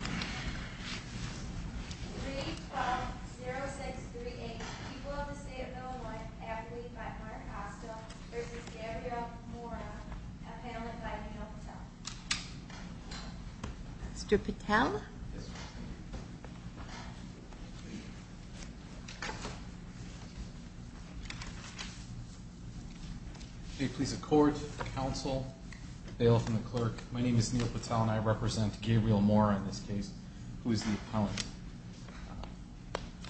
3-12-0638 People of the State of Illinois, athlete by Mark Hostow v. Gabriel Mora, appellate by Neil Patel Mr. Patel? Yes, Your Honor. May it please the Court, Counsel, Bailiff, and the Clerk, my name is Neil Patel and I represent Gabriel Mora in this case, who is the appellant.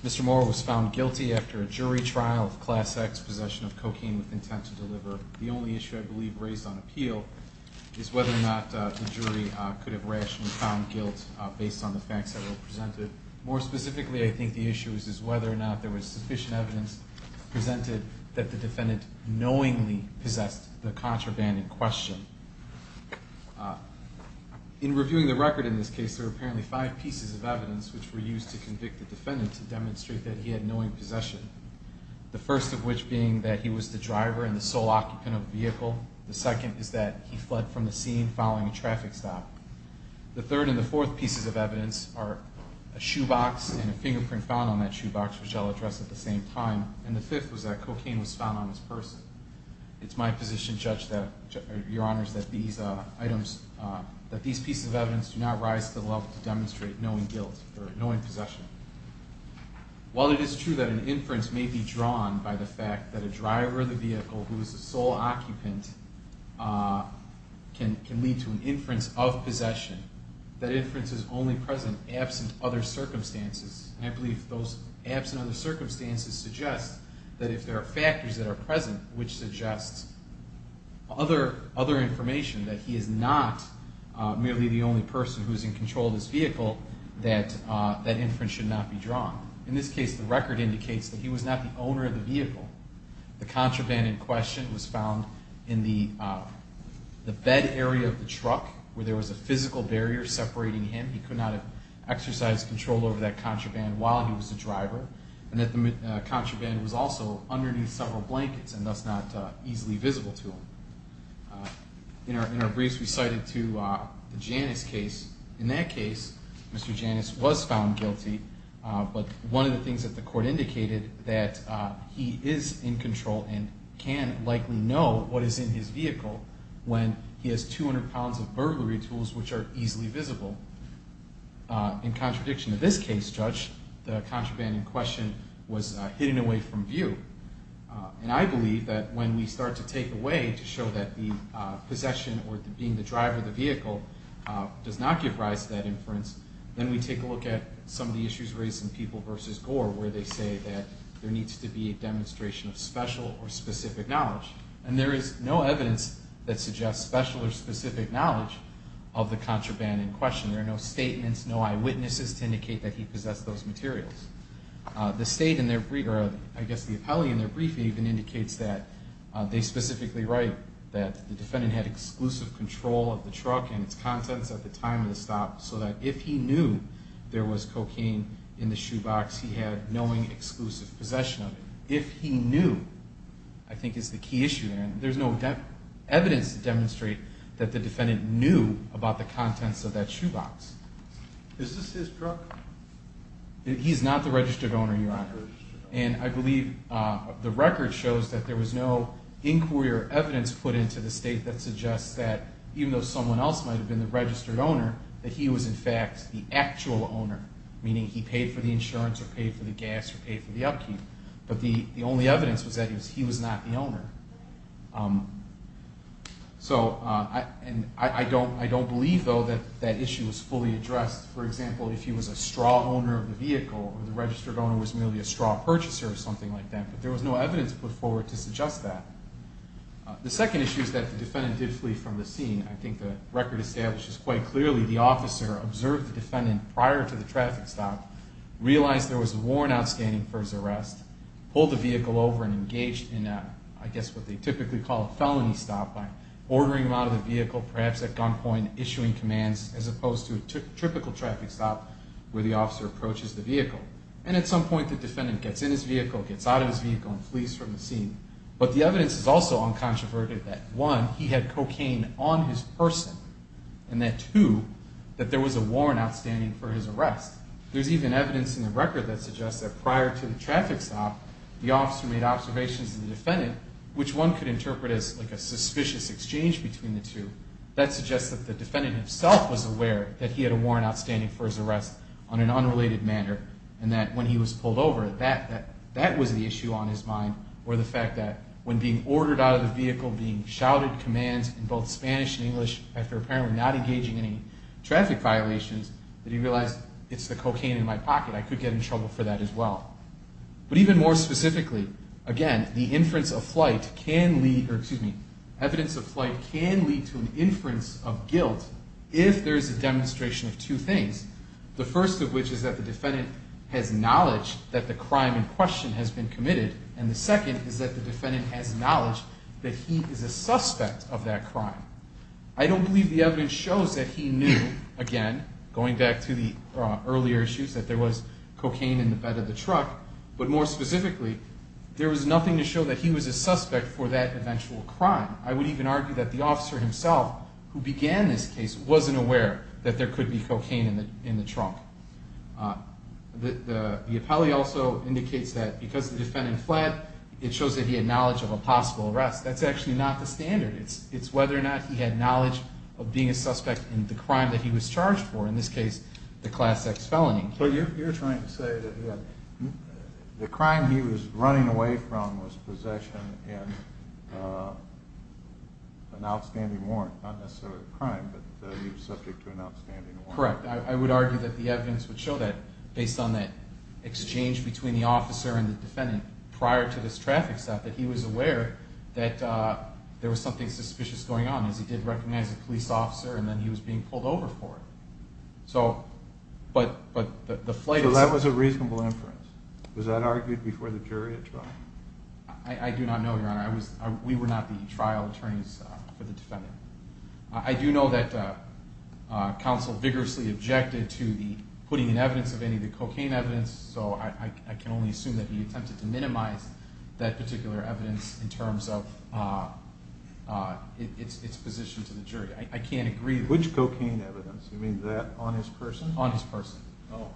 Mr. Mora was found guilty after a jury trial of Class X possession of cocaine with intent to deliver. The only issue I believe raised on appeal is whether or not the jury could have rationally found guilt based on the facts that were presented. More specifically, I think the issue is whether or not there was sufficient evidence presented that the defendant knowingly possessed the contraband in question. In reviewing the record in this case, there are apparently five pieces of evidence which were used to convict the defendant to demonstrate that he had knowing possession. The first of which being that he was the driver and the sole occupant of the vehicle. The second is that he fled from the scene following a traffic stop. The third and the fourth pieces of evidence are a shoebox and a fingerprint found on that shoebox, which I'll address at the same time. And the fifth was that cocaine was found on his purse. It's my position, Judge, that these pieces of evidence do not rise to the level to demonstrate knowing possession. While it is true that an inference may be drawn by the fact that a driver of the vehicle who is the sole occupant can lead to an inference of possession, that inference is only present absent other circumstances. And I believe those absent other circumstances suggest that if there are factors that are present, which suggests other information, that he is not merely the only person who is in control of this vehicle, that that inference should not be drawn. In this case, the record indicates that he was not the owner of the vehicle. The contraband in question was found in the bed area of the truck, where there was a physical barrier separating him. He could not have exercised control over that contraband while he was the driver. And that the contraband was also underneath several blankets and thus not easily visible to him. In our briefs, we cited to the Janus case. In that case, Mr. Janus was found guilty. But one of the things that the court indicated that he is in control and can likely know what is in his vehicle when he has 200 pounds of burglary tools which are easily visible. In contradiction to this case, Judge, the contraband in question was hidden away from view. And I believe that when we start to take away to show that the possession or being the driver of the vehicle does not give rise to that inference, then we take a look at some of the issues raised in People v. Gore where they say that there needs to be a demonstration of special or specific knowledge. And there is no evidence that suggests special or specific knowledge of the contraband in question. There are no statements, no eyewitnesses to indicate that he possessed those materials. The state in their brief, or I guess the appellee in their brief even indicates that they specifically write that the defendant had exclusive control of the truck and its contents at the time of the stop so that if he knew there was cocaine in the shoebox, he had knowing exclusive possession of it. If he knew, I think is the key issue there. There is no evidence to demonstrate that the defendant knew about the contents of that shoebox. Is this his truck? He is not the registered owner, Your Honor. And I believe the record shows that there was no inquiry or evidence put into the state that suggests that even though someone else might have been the registered owner, that he was in fact the actual owner, meaning he paid for the insurance or paid for the gas or paid for the upkeep. But the only evidence was that he was not the owner. So I don't believe, though, that that issue was fully addressed. For example, if he was a straw owner of the vehicle or the registered owner was merely a straw purchaser or something like that, but there was no evidence put forward to suggest that. The second issue is that the defendant did flee from the scene. I think the record establishes quite clearly the officer observed the defendant prior to the traffic stop, realized there was a warrant outstanding for his arrest, pulled the vehicle over and engaged in, I guess, what they typically call a felony stop by ordering him out of the vehicle, perhaps at gunpoint, issuing commands, as opposed to a typical traffic stop where the officer approaches the vehicle. And at some point, the defendant gets in his vehicle, gets out of his vehicle, and flees from the scene. But the evidence is also uncontroverted that, one, he had cocaine on his person, and that, two, that there was a warrant outstanding for his arrest. There's even evidence in the record that suggests that prior to the traffic stop, the officer made observations to the defendant, which one could interpret as, like, a suspicious exchange between the two. That suggests that the defendant himself was aware that he had a warrant outstanding for his arrest on an unrelated matter, and that when he was pulled over, that was the issue on his mind, or the fact that when being ordered out of the vehicle, being shouted commands in both Spanish and English, after apparently not engaging in any traffic violations, that he realized, it's the cocaine in my pocket. I could get in trouble for that as well. But even more specifically, again, the inference of flight can lead, or excuse me, evidence of flight can lead to an inference of guilt if there is a demonstration of two things, the first of which is that the defendant has knowledge that the crime in question has been committed, and the second is that the defendant has knowledge that he is a suspect of that crime. I don't believe the evidence shows that he knew, again, going back to the earlier issues, that there was cocaine in the bed of the truck, but more specifically, there was nothing to show that he was a suspect for that eventual crime. I would even argue that the officer himself, who began this case, wasn't aware that there could be cocaine in the trunk. The appellee also indicates that because the defendant fled, it shows that he had knowledge of a possible arrest. That's actually not the standard. It's whether or not he had knowledge of being a suspect in the crime that he was charged for, in this case, the Class X felony. But you're trying to say that the crime he was running away from was possession in an outstanding warrant, not necessarily a crime, but he was subject to an outstanding warrant. Correct. I would argue that the evidence would show that, based on that exchange between the officer and the defendant prior to this traffic stop, that he was aware that there was something suspicious going on, as he did recognize a police officer, and then he was being pulled over for it. So that was a reasonable inference. Was that argued before the jury at trial? I do not know, Your Honor. We were not the trial attorneys for the defendant. I do know that counsel vigorously objected to putting in evidence of any of the cocaine evidence, so I can only assume that he attempted to minimize that particular evidence in terms of its position to the jury. I can't agree. Which cocaine evidence? You mean that on his person? On his person. Oh.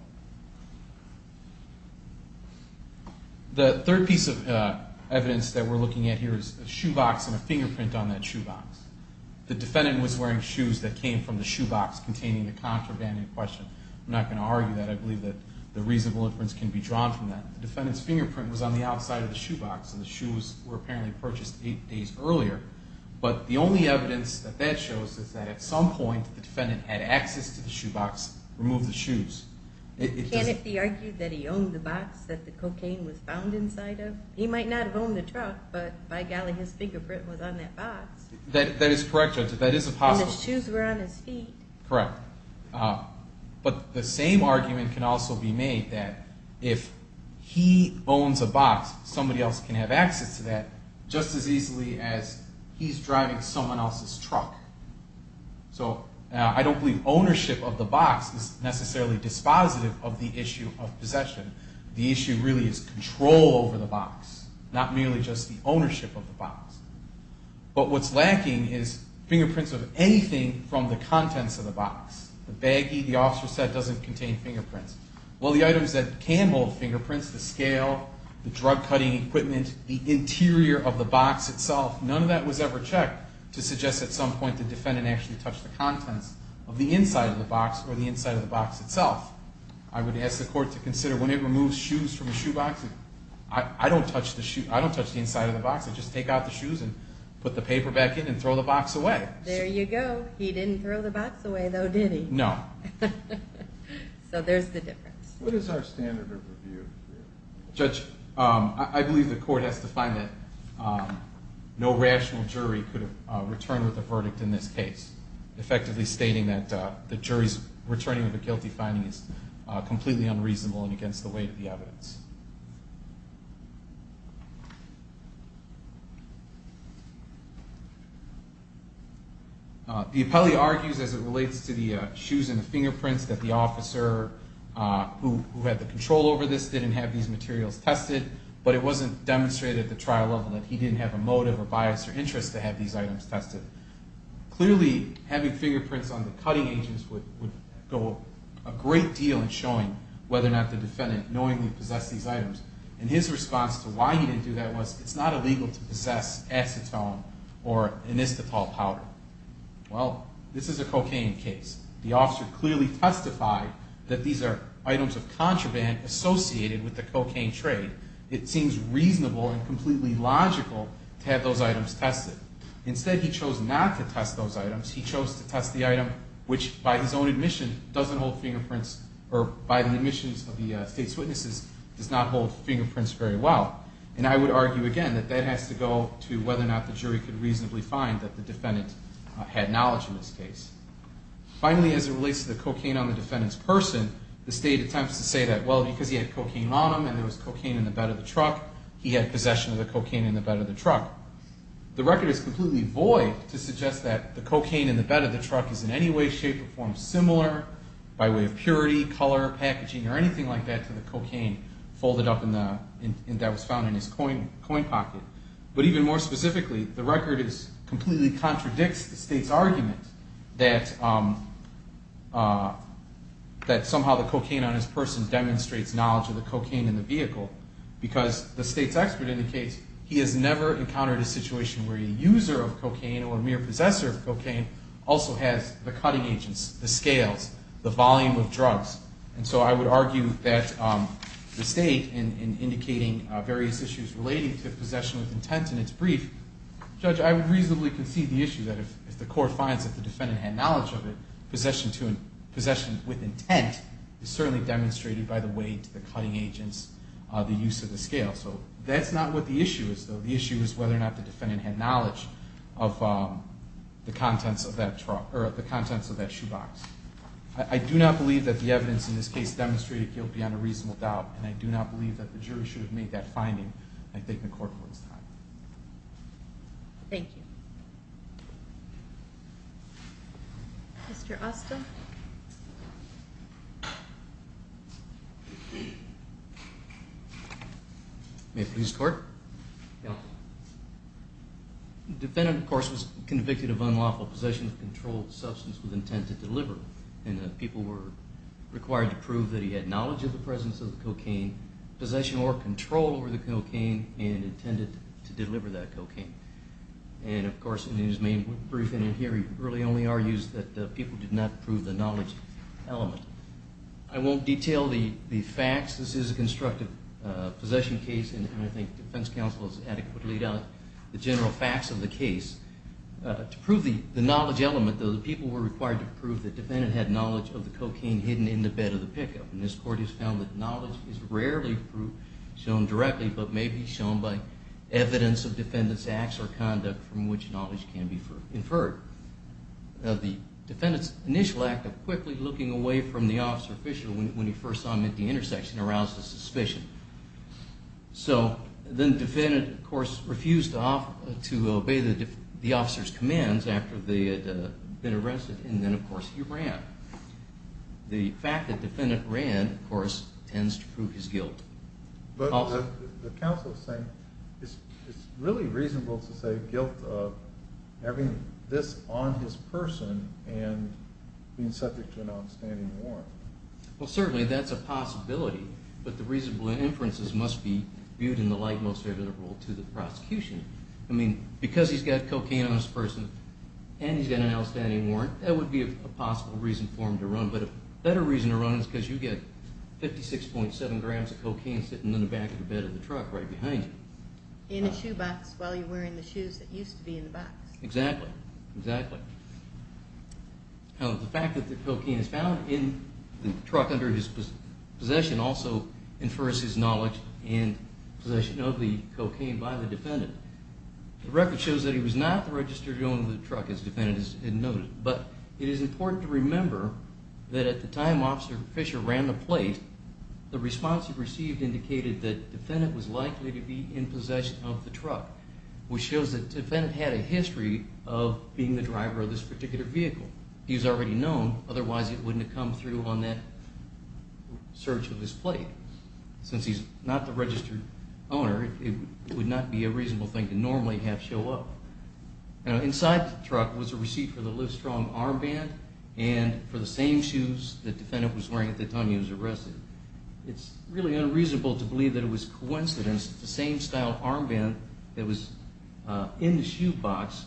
The third piece of evidence that we're looking at here is a shoebox and a fingerprint on that shoebox. The defendant was wearing shoes that came from the shoebox containing the contraband in question. I'm not going to argue that. I believe that the reasonable inference can be drawn from that. The defendant's fingerprint was on the outside of the shoebox, and the shoes were apparently purchased eight days earlier. But the only evidence that that shows is that at some point the defendant had access to the shoebox, removed the shoes. Can it be argued that he owned the box that the cocaine was found inside of? He might not have owned the truck, but by golly, his fingerprint was on that box. That is correct, Judge. That is a possibility. And the shoes were on his feet. Correct. But the same argument can also be made that if he owns a box, somebody else can have access to that just as easily as he's driving someone else's truck. So I don't believe ownership of the box is necessarily dispositive of the issue of possession. The issue really is control over the box, not merely just the ownership of the box. But what's lacking is fingerprints of anything from the contents of the box. The baggie, the officer said, doesn't contain fingerprints. Well, the items that can hold fingerprints, the scale, the drug-cutting equipment, the interior of the box itself, none of that was ever checked to suggest at some point the defendant actually touched the contents of the inside of the box or the inside of the box itself. I would ask the Court to consider when it removes shoes from the shoebox, I don't touch the inside of the box. I just take out the shoes and put the paper back in and throw the box away. There you go. He didn't throw the box away, though, did he? No. So there's the difference. What is our standard of review? Judge, I believe the Court has to find that no rational jury could have returned with a verdict in this case, effectively stating that the jury's returning of a guilty finding is completely unreasonable and against the weight of the evidence. The appellee argues, as it relates to the shoes and the fingerprints, that the officer who had the control over this didn't have these materials tested, but it wasn't demonstrated at the trial level that he didn't have a motive or bias or interest to have these items tested. Clearly, having fingerprints on the cutting agents would go a great deal in showing whether or not the defendant knowingly possessed these items. And his response to why he didn't do that was, it's not illegal to possess acetone or inistapol powder. Well, this is a cocaine case. The officer clearly testified that these are items of contraband associated with the cocaine trade. It seems reasonable and completely logical to have those items tested. Instead, he chose not to test those items. He chose to test the item which, by his own admission, doesn't hold fingerprints, or by the admissions of the State's witnesses, does not hold fingerprints very well. And I would argue again that that has to go to whether or not the jury could reasonably find that the defendant had knowledge in this case. Finally, as it relates to the cocaine on the defendant's person, the State attempts to say that, well, because he had cocaine on him and there was cocaine in the bed of the truck, he had possession of the cocaine in the bed of the truck. The record is completely void to suggest that the cocaine in the bed of the truck is in any way, shape, or form similar by way of purity, color, packaging, or anything like that to the cocaine folded up that was found in his coin pocket. But even more specifically, the record completely contradicts the State's argument that somehow the cocaine on his person demonstrates knowledge of the cocaine in the vehicle because the State's expert indicates he has never encountered a situation where a user of cocaine or a mere possessor of cocaine also has the cutting agents, the scales, the volume of drugs. And so I would argue that the State, in indicating various issues relating to possession with intent in its brief, Judge, I would reasonably concede the issue that if the court finds that the defendant had knowledge of it, possession with intent is certainly demonstrated by the weight, the cutting agents, the use of the scale. So that's not what the issue is, though. The issue is whether or not the defendant had knowledge of the contents of that truck or the contents of that shoebox. I do not believe that the evidence in this case demonstrated guilt beyond a reasonable doubt, and I do not believe that the jury should have made that finding. I think the court will decide. Thank you. Mr. Austin? May it please the Court? The defendant, of course, was convicted of unlawful possession of a controlled substance with intent to deliver, and the people were required to prove that he had knowledge of the presence of the cocaine, possession or control over the cocaine, and intended to deliver that cocaine. And, of course, in his main briefing here, he really only argues that the people did not prove the knowledge element. I won't detail the facts. This is a constructive possession case, and I think defense counsel has adequately laid out the general facts of the case. To prove the knowledge element, though, the people were required to prove the defendant had knowledge of the cocaine hidden in the bed of the pickup, and this court has found that knowledge is rarely shown directly, but may be shown by evidence of defendant's acts or conduct from which knowledge can be inferred. Now, the defendant's initial act of quickly looking away from the officer official when he first saw him at the intersection aroused a suspicion. So then the defendant, of course, refused to obey the officer's commands after they had been arrested, and then, of course, he ran. The fact that the defendant ran, of course, tends to prove his guilt. But the counsel is saying it's really reasonable to say guilt of having this on his person and being subject to an outstanding warrant. Well, certainly that's a possibility, but the reasonable inferences must be viewed in the likemost way to the prosecution. I mean, because he's got cocaine on his person and he's got an outstanding warrant, that would be a possible reason for him to run. But a better reason to run is because you get 56.7 grams of cocaine sitting in the back of the bed of the truck right behind you. In a shoebox while you're wearing the shoes that used to be in the box. Exactly, exactly. Now, the fact that the cocaine is found in the truck under his possession also infers his knowledge and possession of the cocaine by the defendant. The record shows that he was not registered to own the truck, as the defendant has noted, but it is important to remember that at the time Officer Fisher ran the plate, the response he received indicated that the defendant was likely to be in possession of the truck, which shows that the defendant had a history of being the driver of this particular vehicle. He was already known, otherwise he wouldn't have come through on that search of his plate. Since he's not the registered owner, it would not be a reasonable thing to normally have show up. Now, inside the truck was a receipt for the Livestrong armband and for the same shoes that the defendant was wearing at the time he was arrested. It's really unreasonable to believe that it was coincidence that the same style armband that was in the shoebox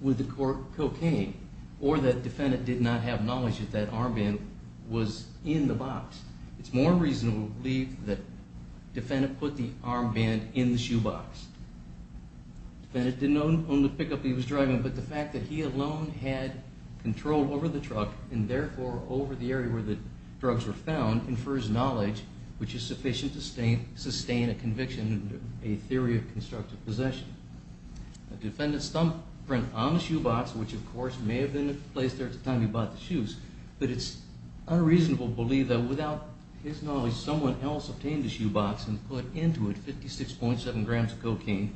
with the cocaine, or that the defendant did not have knowledge that that armband was in the box. It's more reasonable to believe that the defendant put the armband in the shoebox. The defendant didn't own the pickup he was driving, but the fact that he alone had control over the truck, and therefore over the area where the drugs were found, infers knowledge which is sufficient to sustain a conviction and a theory of constructive possession. The defendant's thumbprint on the shoebox, which of course may have been placed there at the time he bought the shoes, but it's unreasonable to believe that without his knowledge, someone else obtained the shoebox and put into it 56.7 grams of cocaine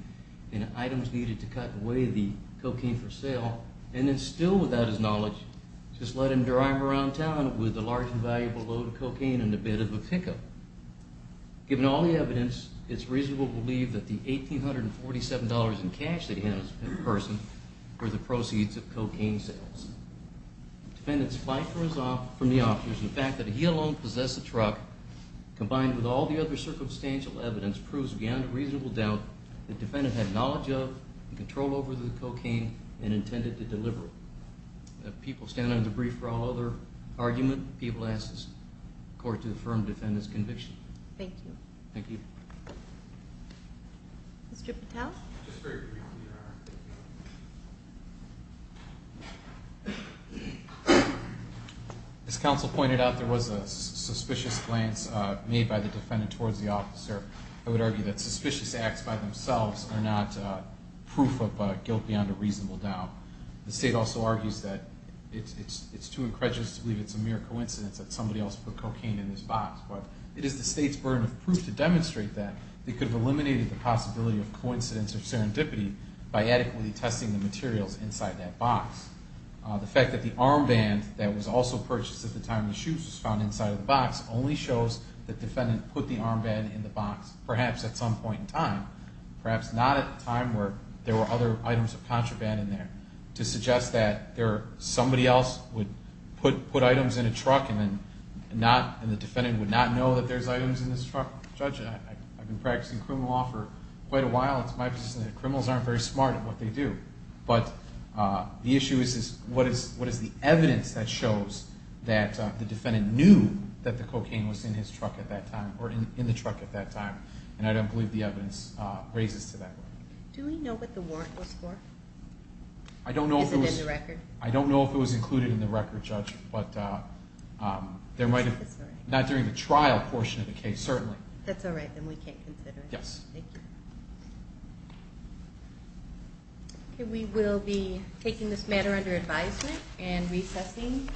and items needed to cut away the cocaine for sale, and then still without his knowledge, just let him drive around town with a large and valuable load of cocaine and a bit of a pickup. Given all the evidence, it's reasonable to believe that the $1,847 in cash that he had in person were the proceeds of cocaine sales. The defendant's flight from the officers and the fact that he alone possessed the truck, combined with all the other circumstantial evidence, proves beyond a reasonable doubt that the defendant had knowledge of and control over the cocaine and intended to deliver it. If people stand on the brief for all other argument, people ask this court to affirm the defendant's conviction. Thank you. Thank you. Mr. Patel? Just very briefly. As counsel pointed out, there was a suspicious glance made by the defendant towards the officer. I would argue that suspicious acts by themselves are not proof of guilt beyond a reasonable doubt. The state also argues that it's too incredulous to believe it's a mere coincidence that somebody else put cocaine in this box, but it is the state's burden of proof to demonstrate that they could have eliminated the possibility of coincidence or serendipity by adequately testing the materials inside that box. The fact that the armband that was also purchased at the time the shoe was found inside of the box only shows that the defendant put the armband in the box, perhaps at some point in time, perhaps not at a time where there were other items of contraband in there, to suggest that somebody else would put items in a truck and the defendant would not know that there's items in this truck. Judge, I've been practicing criminal law for quite a while. It's my position that criminals aren't very smart at what they do. But the issue is what is the evidence that shows that the defendant knew that the cocaine was in his truck at that time or in the truck at that time, and I don't believe the evidence raises to that. Do we know what the warrant was for? Is it in the record? I don't know if it was included in the record, Judge, but not during the trial portion of the case, certainly. That's all right, then we can't consider it. Yes. Thank you. Okay, we will be taking this matter under advisement and recessing.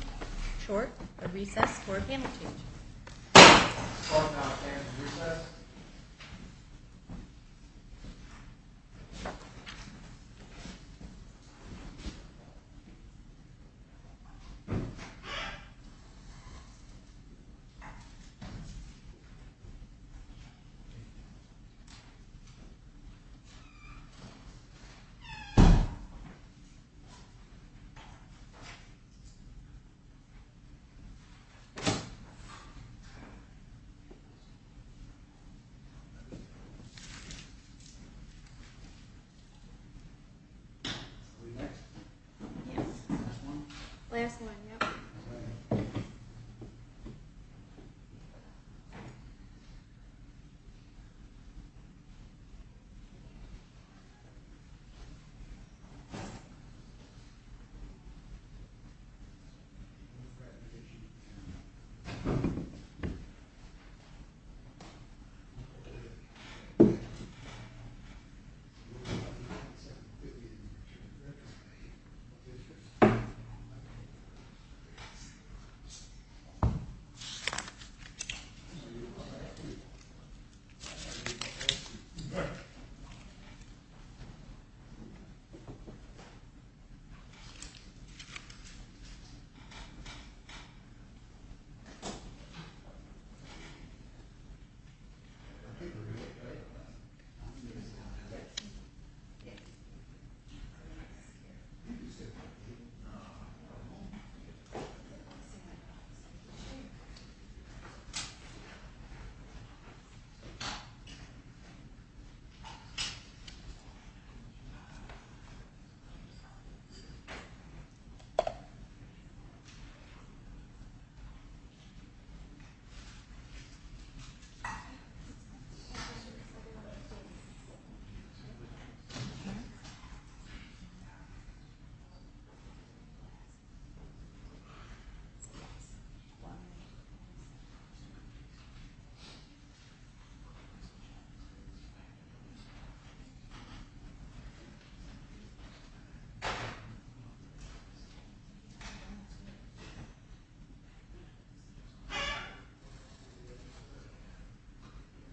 Short recess for a panel change. Court is now in recess. Last one, yep. Thank you. Thank you. Thank you. Thank you. Thank you. Thank you. Thank you. Thank you. Thank you. Thank you.